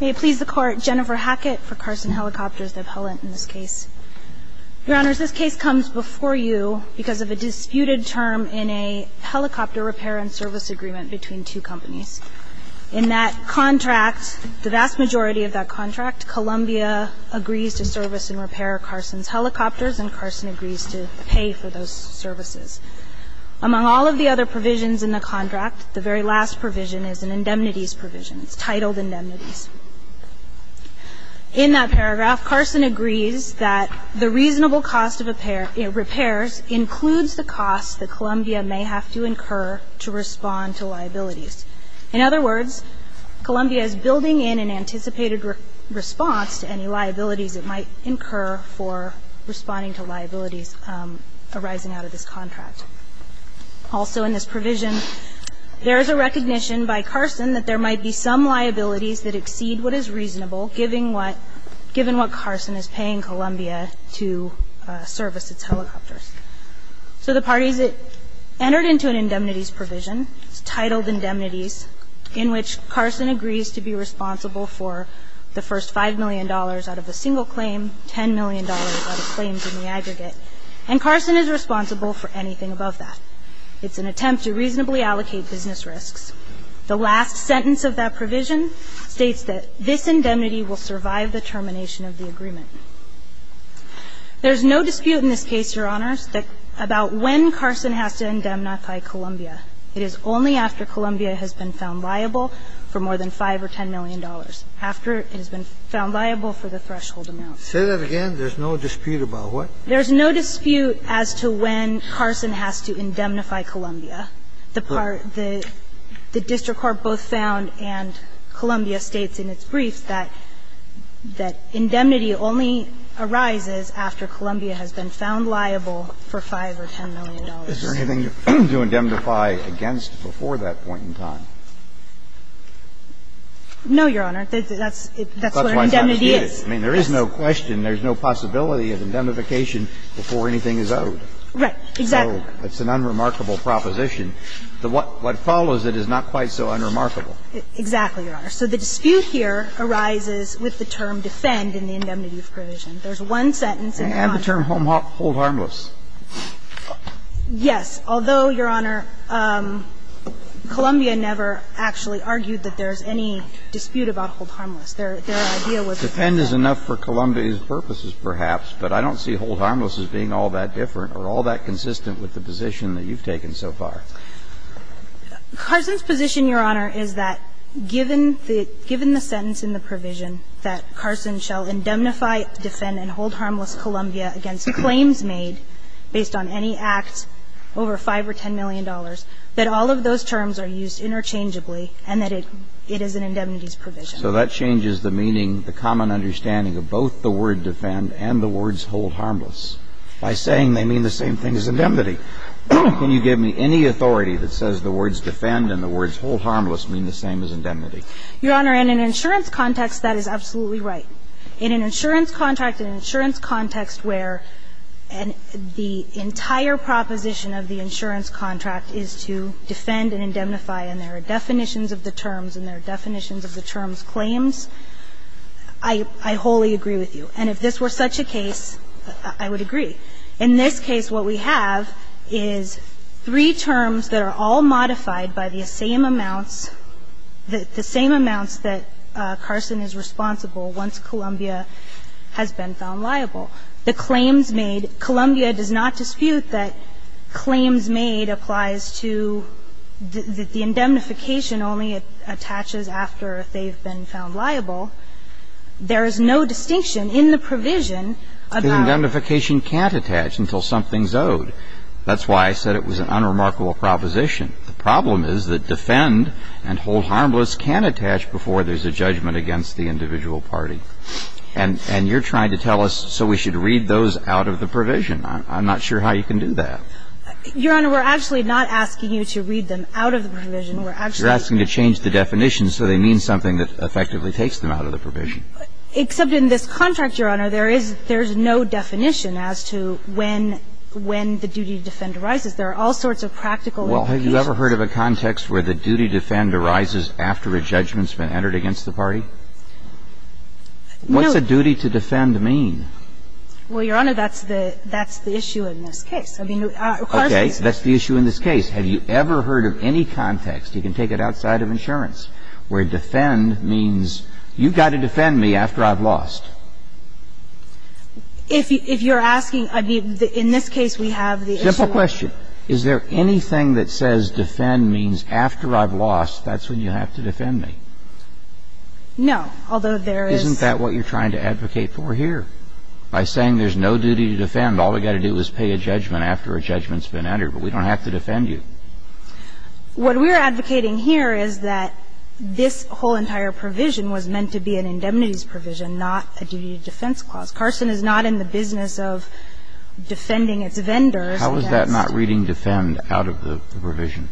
May it please the Court, Jennifer Hackett for Carson Helicopters, the appellant in this case. Your Honors, this case comes before you because of a disputed term in a helicopter repair and service agreement between two companies. In that contract, the vast majority of that contract, Columbia agrees to service and repair Carson's helicopters, and Carson agrees to pay for those services. Among all of the other provisions in the contract, the very last provision is an indemnities provision. It's titled indemnities. In that paragraph, Carson agrees that the reasonable cost of repairs includes the cost that Columbia may have to incur to respond to liabilities. In other words, Columbia is building in an anticipated response to any liabilities it might incur for responding to liabilities arising out of this contract. Also in this provision, there is a recognition by Carson that there might be some liabilities that exceed what is reasonable, given what Carson is paying Columbia to service its helicopters. So the parties that entered into an indemnities provision, it's titled indemnities, in which Carson agrees to be responsible for the first $5 million out of a single claim, $10 million out of claims in the aggregate. In other words, Columbia is responsible for the first $5 million out of a single claim, $10 million out of claims in the aggregate. And Carson is responsible for anything above that. It's an attempt to reasonably allocate business risks. The last sentence of that provision states that this indemnity will survive the termination of the agreement. There's no dispute in this case, Your Honors, about when Carson has to indemnify Columbia. It is only after Columbia has been found liable for more than $5 or $10 million. After it has been found liable for the threshold amount. Kennedy. Say that again. There's no dispute about what? There's no dispute as to when Carson has to indemnify Columbia. The part that the district court both found and Columbia states in its brief that indemnity only arises after Columbia has been found liable for $5 or $10 million. Is there anything to indemnify against before that point in time? No, Your Honor. That's where indemnity is. I mean, there is no question. There's no possibility of indemnification before anything is owed. Right. Exactly. It's an unremarkable proposition. What follows it is not quite so unremarkable. Exactly, Your Honor. So the dispute here arises with the term defend in the indemnity of provision. There's one sentence in the contract. And the term hold harmless. Yes. Although, Your Honor, Columbia never actually argued that there's any dispute about hold harmless. Their idea was that. Defend is enough for Columbia's purposes, perhaps. But I don't see hold harmless as being all that different or all that consistent with the position that you've taken so far. Carson's position, Your Honor, is that given the sentence in the provision that Carson shall indemnify, defend, and hold harmless Columbia against claims made based on any act over $5 or $10 million, that all of those terms are used interchangeably and that it is an indemnity's provision. So that changes the meaning, the common understanding of both the word defend and the words hold harmless by saying they mean the same thing as indemnity. Can you give me any authority that says the words defend and the words hold harmless mean the same as indemnity? Your Honor, in an insurance context, that is absolutely right. In an insurance contract, in an insurance context where the entire proposition of the insurance contract is to defend and indemnify and there are definitions of the terms and there are definitions of the terms claims, I wholly agree with you. And if this were such a case, I would agree. In this case, what we have is three terms that are all modified by the same amounts that Carson is responsible once Columbia has been found liable. The claims made, Columbia does not dispute that claims made applies to the indemnification only attaches after they've been found liable. There is no distinction in the provision about. Indemnification can't attach until something is owed. That's why I said it was an unremarkable proposition. The problem is that defend and hold harmless can attach before there's a judgment against the individual party. And you're trying to tell us so we should read those out of the provision. I'm not sure how you can do that. Your Honor, we're actually not asking you to read them out of the provision. We're actually asking you to change the definition so they mean something that effectively takes them out of the provision. Except in this contract, Your Honor, there is no definition as to when the duty to defend arises. There are all sorts of practical implications. Well, have you ever heard of a context where the duty to defend arises after a judgment's been entered against the party? No. What's a duty to defend mean? Well, Your Honor, that's the issue in this case. Okay. That's the issue in this case. Have you ever heard of any context, you can take it outside of insurance, where defend means you've got to defend me after I've lost? If you're asking, I mean, in this case we have the issue. Simple question. Is there anything that says defend means after I've lost, that's when you have to defend me? No. Although there is. Isn't that what you're trying to advocate for here? By saying there's no duty to defend, all we've got to do is pay a judgment after a judgment's been entered, but we don't have to defend you. What we're advocating here is that this whole entire provision was meant to be an indemnities provision, not a duty to defense clause. Carson is not in the business of defending its vendors. How is that not reading defend out of the provision?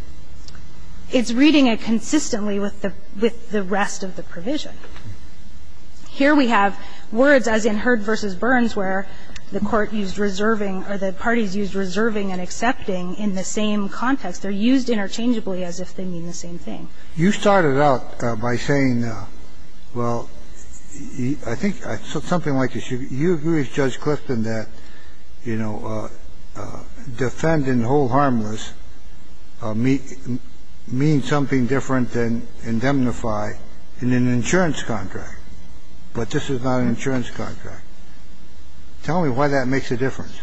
It's reading it consistently with the rest of the provision. Here we have words, as in Hurd v. Burns, where the court used reserving or the parties used reserving and accepting in the same context. They're used interchangeably as if they mean the same thing. You started out by saying, well, I think something like this. You agree with Judge Clifton that, you know, defend and hold harmless means something different than indemnify in an insurance contract, but this is not an insurance contract. Tell me why that makes a difference,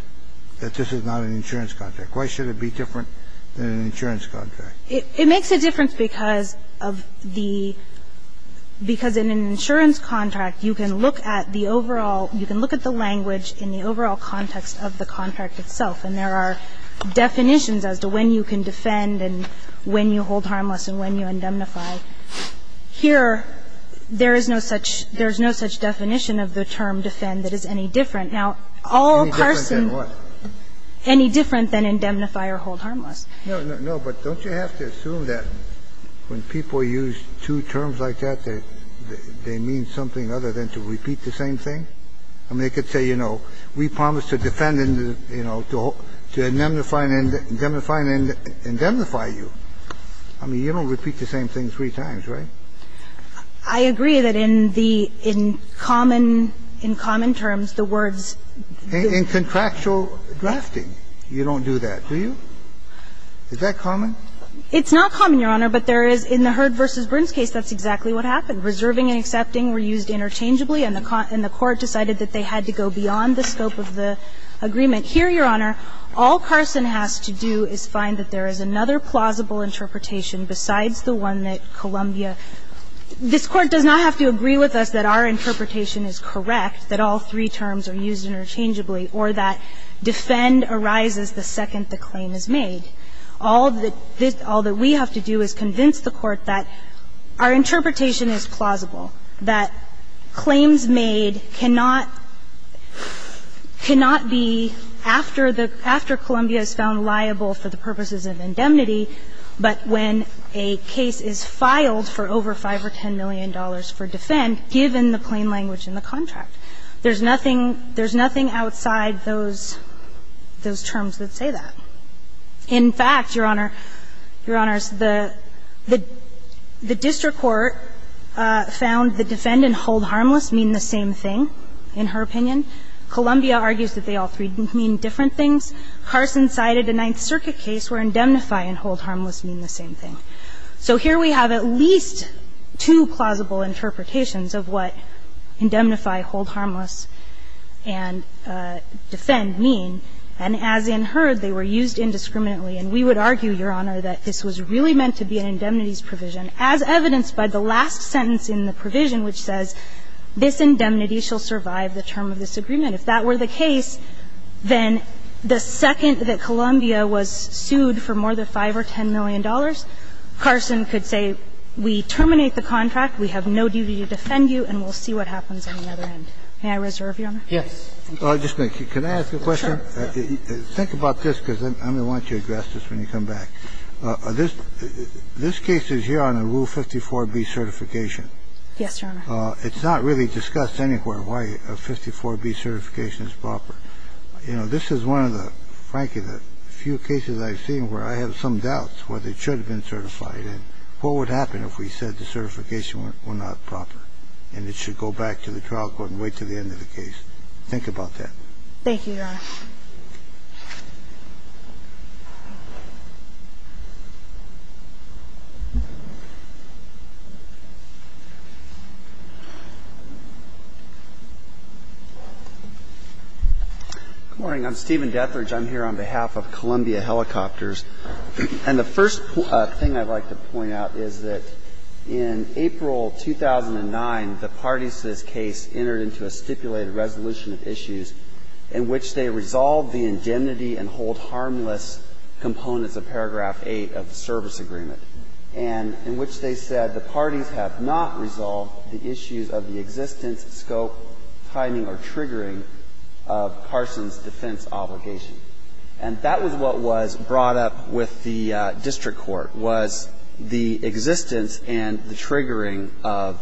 that this is not an insurance contract. Why should it be different than an insurance contract? It makes a difference because of the – because in an insurance contract, you can look at the overall – you can look at the language in the overall context of the contract itself, and there are definitions as to when you can defend and when you hold harmless and when you indemnify. Here, there is no such – there is no such definition of the term defend that is any different. Now, all Carson – Any different than what? Any different than indemnify or hold harmless. No, no, no. But don't you have to assume that when people use two terms like that, they mean something other than to repeat the same thing? I mean, they could say, you know, we promise to defend and, you know, to indemnify and indemnify and indemnify you. I mean, you don't repeat the same thing three times, right? I agree that in the – in common – in common terms, the words do. In contractual drafting, you don't do that, do you? Is that common? It's not common, Your Honor, but there is – in the Heard v. Brin's case, that's exactly what happened. Reserving and accepting were used interchangeably, and the court decided that they had to go beyond the scope of the agreement. Here, Your Honor, all Carson has to do is find that there is another plausible interpretation besides the one that Columbia – this Court does not have to agree with us that our interpretation is correct, that all three terms are used interchangeably, or that defend arises the second the claim is made. All that this – all that we have to do is convince the Court that our interpretation is plausible, that claims made cannot – cannot be, after the – after Columbia is found liable for the purposes of indemnity, but when a case is filed for over $5 million or $10 million for defend, given the plain language in the contract. There's nothing – there's nothing outside those – those terms that say that. In fact, Your Honor – Your Honors, the – the district court found the defend and hold harmless mean the same thing, in her opinion. Columbia argues that they all three mean different things. Carson cited a Ninth Circuit case where indemnify and hold harmless mean the same thing. And so, in this case, we have to convince the Court that the defend and hold harmless and defend mean, and as in her, they were used indiscriminately. And we would argue, Your Honor, that this was really meant to be an indemnities provision, as evidenced by the last sentence in the provision, which says, this indemnity shall survive the term of this agreement. If that were the case, then the second that Columbia was sued for more than $5 or $10 million, Carson could say, we terminate the contract, we have no duty to defend you, and we'll see what happens on the other end. May I reserve, Your Honor? Roberts. Kennedy. Just a minute. Can I ask a question? Think about this, because I'm going to want you to address this when you come back. This – this case is here on a Rule 54b certification. Yes, Your Honor. It's not really discussed anywhere why a 54b certification is proper. You know, this is one of the, frankly, the few cases I've seen where I have some doubts whether it should have been certified, and what would happen if we said the certification were not proper, and it should go back to the trial court and wait until the end of the case. Thank you, Your Honor. Good morning. I'm Stephen Dethridge. I'm here on behalf of Columbia Helicopters. And the first thing I'd like to point out is that in April 2009, the parties to this case entered into a stipulated resolution of issues in which they resolved the indemnity and hold harmless components of paragraph 8 of the service agreement, and in which they said the parties have not resolved the issues of the existence, scope, timing or triggering of Parson's defense obligation. And that was what was brought up with the district court, was the existence and the triggering of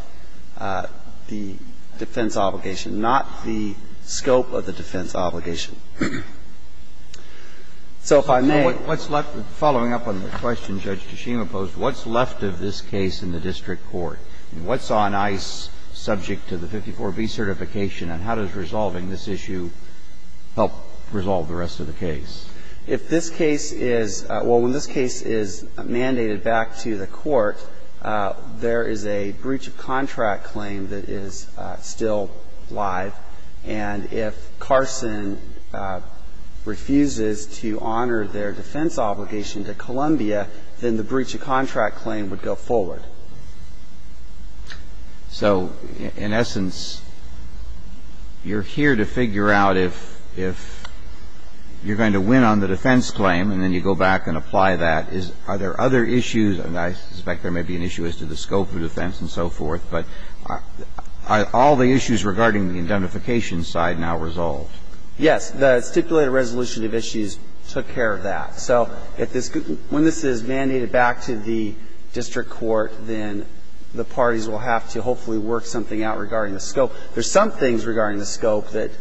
the defense obligation, not the scope of the defense obligation. So if I may. What's left – following up on the question Judge Tshima posed, what's left of this case in the district court? What's on ice subject to the 54B certification, and how does resolving this issue help resolve the rest of the case? If this case is – well, when this case is mandated back to the court, there is a breach of contract claim that is still live. And if Carson refuses to honor their defense obligation to Columbia, then the breach of contract claim would go forward. So in essence, you're here to figure out if you're going to win on the defense claim, and then you go back and apply that. Are there other issues? And I suspect there may be an issue as to the scope of defense and so forth, but are all the issues regarding the indemnification side now resolved? Yes. The stipulated resolution of issues took care of that. So if this – when this is mandated back to the district court, then the parties will have to hopefully work something out regarding the scope. There's some things regarding the scope that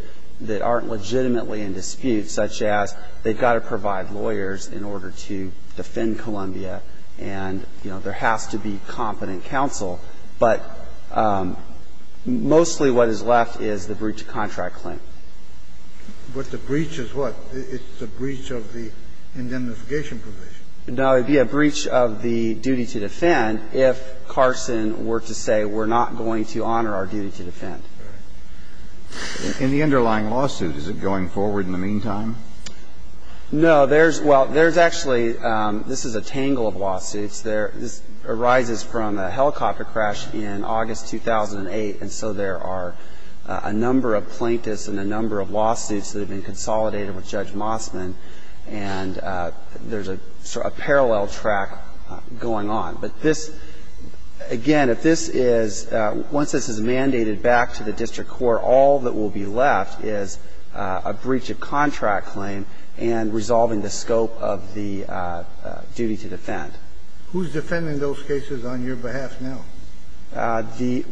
aren't legitimately in dispute, such as they've got to provide lawyers in order to defend Columbia, and, you know, there has to be competent counsel. But mostly what is left is the breach of contract claim. But the breach is what? It's the breach of the indemnification provision. No. It would be a breach of the duty to defend if Carson were to say we're not going to honor our duty to defend. In the underlying lawsuit, is it going forward in the meantime? No. There's – well, there's actually – this is a tangle of lawsuits. This arises from a helicopter crash in August 2008, and so there are a number of plaintiffs and a number of lawsuits that have been consolidated with Judge Mossman, and there's a parallel track going on. But this – again, if this is – once this is mandated back to the district court, all that will be left is a breach of contract claim and resolving the scope of the duty to defend. Who's defending those cases on your behalf now? The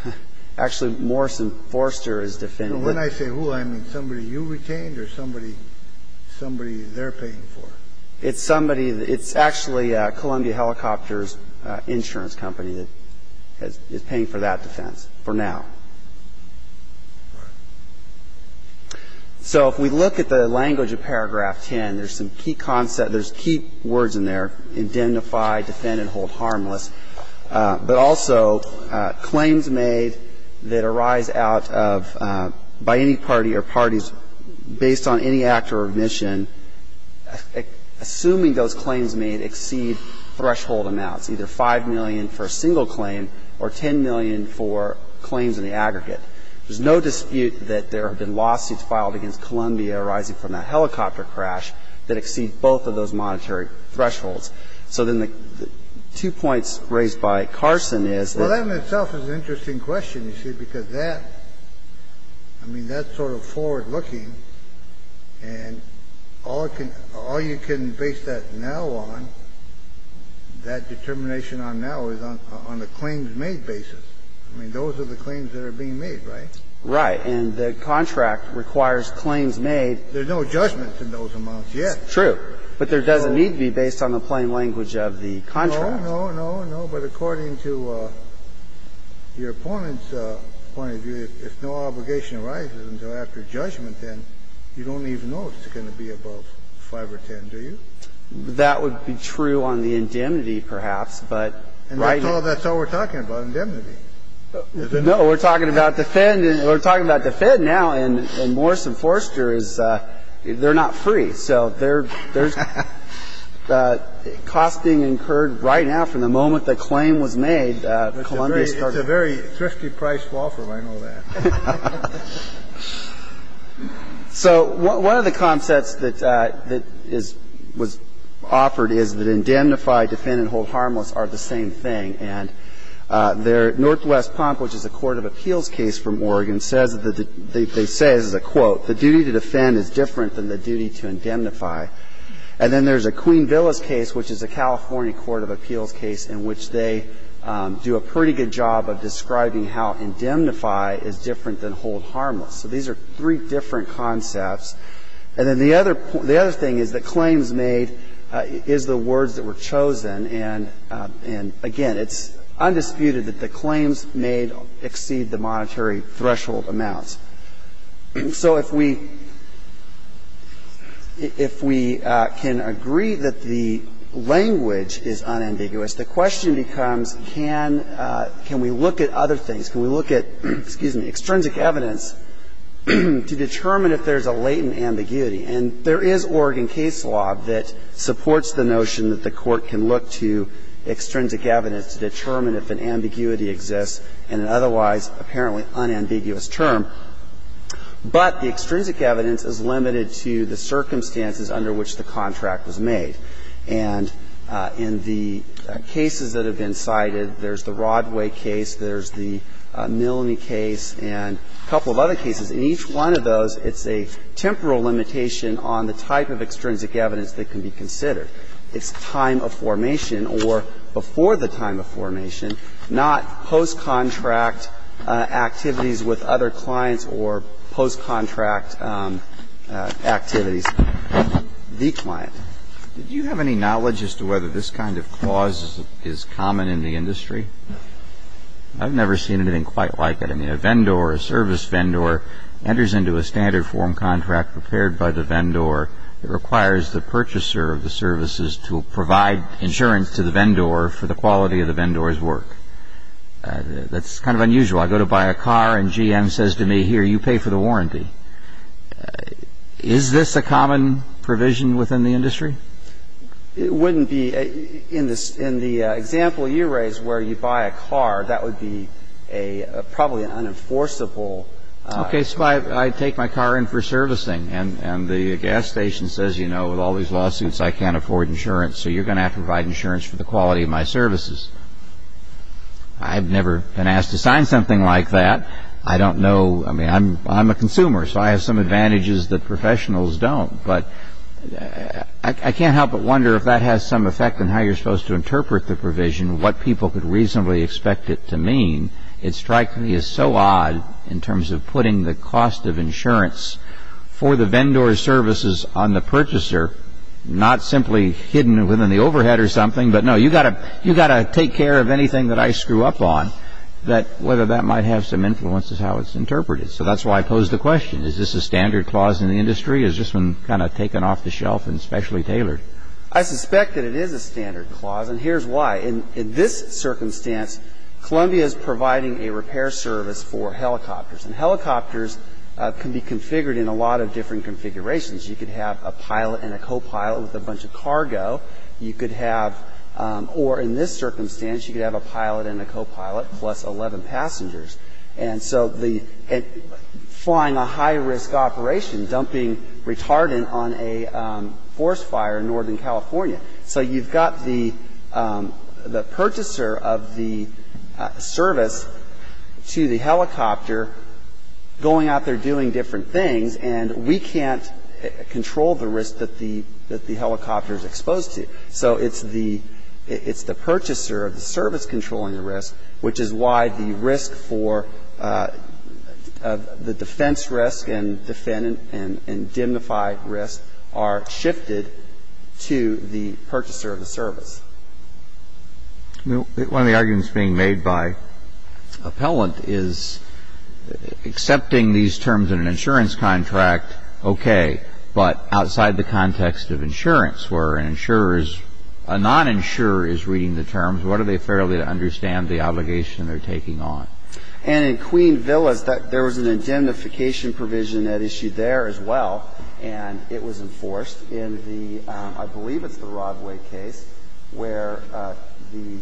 – actually, Morrison Forster is defending it. And when I say who, I mean somebody you retained or somebody they're paying for? It's somebody – it's actually Columbia Helicopters Insurance Company that is paying for that defense for now. Right. So if we look at the language of paragraph 10, there's some key concept – there's key words in there, indemnify, defend, and hold harmless. But also, claims made that arise out of – by any party or parties based on any act or omission, assuming those claims made exceed threshold amounts, either $5 million for a single claim or $10 million for claims in the aggregate. There's no dispute that there have been lawsuits filed against Columbia arising from that helicopter crash that exceed both of those monetary thresholds. So then the two points raised by Carson is that – Well, that in itself is an interesting question, you see, because that – I mean, that's sort of forward-looking. And all it can – all you can base that now on, that determination on now is on a claims made basis. I mean, those are the claims that are being made, right? Right. And the contract requires claims made – There's no judgments in those amounts yet. True. But there doesn't need to be, based on the plain language of the contract. No, no, no, no. But according to your opponent's point of view, if no obligation arises until after judgment, then you don't even know if it's going to be above $5 or $10, do you? That would be true on the indemnity, perhaps, but right – And that's all we're talking about, indemnity. No, we're talking about defend – we're talking about defend now, and Morse and Forster is – they're not free. So there's – cost being incurred right now from the moment the claim was made. It's a very thrifty-priced offer, I know that. So one of the concepts that is – was offered is that indemnify, defend, and hold harmless are the same thing. And their – Northwest Pump, which is a court of appeals case from Oregon, says the – they say, this is a quote, the duty to defend is different than the duty to indemnify. And then there's a Queen Villa's case, which is a California court of appeals case, in which they do a pretty good job of describing how indemnify is different than hold harmless. So these are three different concepts. And then the other – the other thing is that claims made is the words that were chosen, and, again, it's undisputed that the claims made exceed the monetary threshold amounts. So if we – if we can agree that the language is unambiguous, the question becomes, can – can we look at other things? Can we look at – excuse me – extrinsic evidence to determine if there's a latent ambiguity? And there is Oregon case law that supports the notion that the court can look to extrinsic evidence to determine if an ambiguity exists in an otherwise apparently unambiguous term, but the extrinsic evidence is limited to the circumstances under which the contract was made. And in the cases that have been cited, there's the Rodway case, there's the Milne case, and a couple of other cases. In each one of those, it's a temporal limitation on the type of extrinsic evidence that can be considered. It's time of formation or before the time of formation, not post-contract activities with other clients or post-contract activities with the client. Do you have any knowledge as to whether this kind of clause is common in the industry? I've never seen anything quite like it. I mean, a vendor, a service vendor, enters into a standard form contract prepared by the vendor that requires the purchaser of the services to provide insurance to the vendor for the quality of the vendor's work. That's kind of unusual. I go to buy a car, and GM says to me, here, you pay for the warranty. Is this a common provision within the industry? It wouldn't be. In the example you raise where you buy a car, that would be a probably an unenforceable rule. Okay, so I take my car in for servicing, and the gas station says, you know, with all these lawsuits I can't afford insurance, so you're going to have to provide insurance for the quality of my services. I've never been asked to sign something like that. I don't know. I mean, I'm a consumer, so I have some advantages that professionals don't. But I can't help but wonder if that has some effect on how you're supposed to interpret the provision, what people could reasonably expect it to mean. It strikes me as so odd in terms of putting the cost of insurance for the vendor's services on the purchaser, not simply hidden within the overhead or something, but no, you've got to take care of anything that I screw up on, that whether that might have some influence is how it's interpreted. So that's why I pose the question. Is this a standard clause in the industry? Is this one kind of taken off the shelf and specially tailored? I suspect that it is a standard clause, and here's why. In this circumstance, Columbia is providing a repair service for helicopters. And helicopters can be configured in a lot of different configurations. You could have a pilot and a copilot with a bunch of cargo. You could have or in this circumstance, you could have a pilot and a copilot plus 11 passengers. And so the – flying a high-risk operation, dumping retardant on a forest fire in northern California. So you've got the purchaser of the service to the helicopter going out there doing different things, and we can't control the risk that the helicopter is exposed to. So it's the purchaser of the service controlling the risk, which is why the risk for the defense risk and diminified risk are shifted to the helicopter. the risk of the purchaser of the service. One of the arguments being made by Appellant is accepting these terms in an insurance contract, okay, but outside the context of insurance, where an insurer is – a non-insurer is reading the terms, what are they fairly to understand the obligation they're taking on? And in Queen Villas, there was an indemnification provision at issue there as well, and it was enforced in the – I believe it's the Rodway case, where the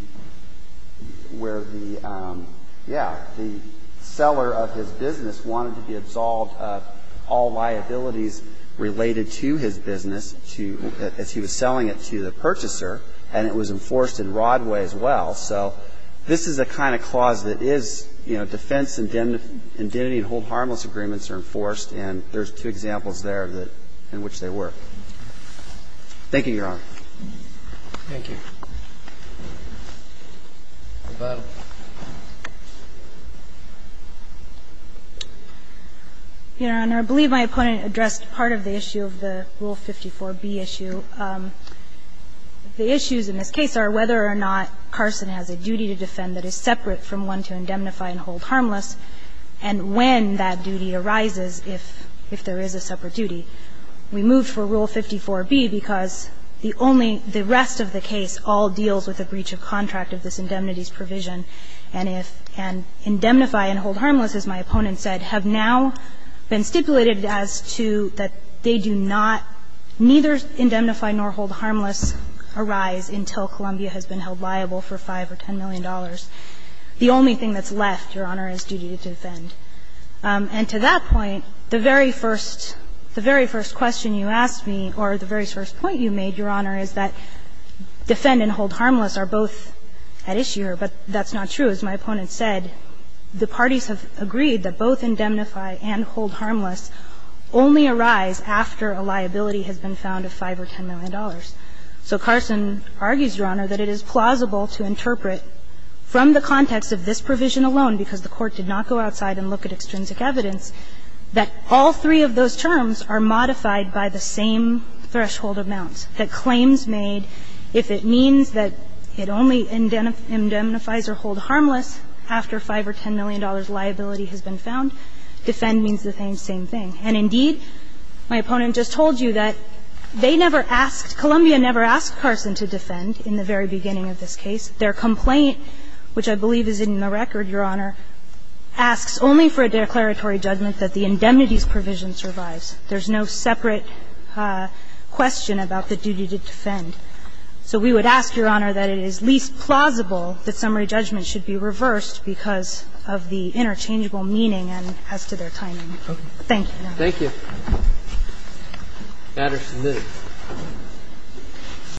– where the – yeah, the seller of his business wanted to be absolved of all liabilities related to his business to – as he was selling it to the purchaser, and it was enforced in Rodway as well. So this is the kind of clause that is, you know, defense indemnity and hold harmless agreements are enforced, and there's two examples there that – in which they work. Thank you, Your Honor. Thank you. Ms. Battle. Your Honor, I believe my opponent addressed part of the issue of the Rule 54b issue. The issues in this case are whether or not Carson has a duty to defend that is separate from one to indemnify and hold harmless, and when that duty arises, if there is a separate duty. We moved for Rule 54b because the only – the rest of the case all deals with a breach of contract of this indemnities provision, and if – and indemnify and hold harmless, as my opponent said, have now been stipulated as to that they do not – neither indemnify nor hold harmless arise until Columbia has been held liable for $5 or $10 million. The only thing that's left, Your Honor, is duty to defend. And to that point, the very first – the very first question you asked me, or the very first point you made, Your Honor, is that defend and hold harmless are both at issue here, but that's not true. As my opponent said, the parties have agreed that both indemnify and hold harmless only arise after a liability has been found of $5 or $10 million. So Carson argues, Your Honor, that it is plausible to interpret from the context of this provision alone, because the Court did not go outside and look at extrinsic evidence, that all three of those terms are modified by the same threshold amount, that claims made, if it means that it only indemnifies or hold harmless after $5 or $10 million liability has been found, defend means the same thing. And indeed, my opponent just told you that they never asked – Columbia never asked Carson to defend in the very beginning of this case. Their complaint, which I believe is in the record, Your Honor, asks only for a declaratory judgment that the indemnities provision survives. There's no separate question about the duty to defend. So we would ask, Your Honor, that it is least plausible that summary judgment should be reversed because of the interchangeable meaning as to their timing. Thank you, Your Honor. Thank you. Patterson, please.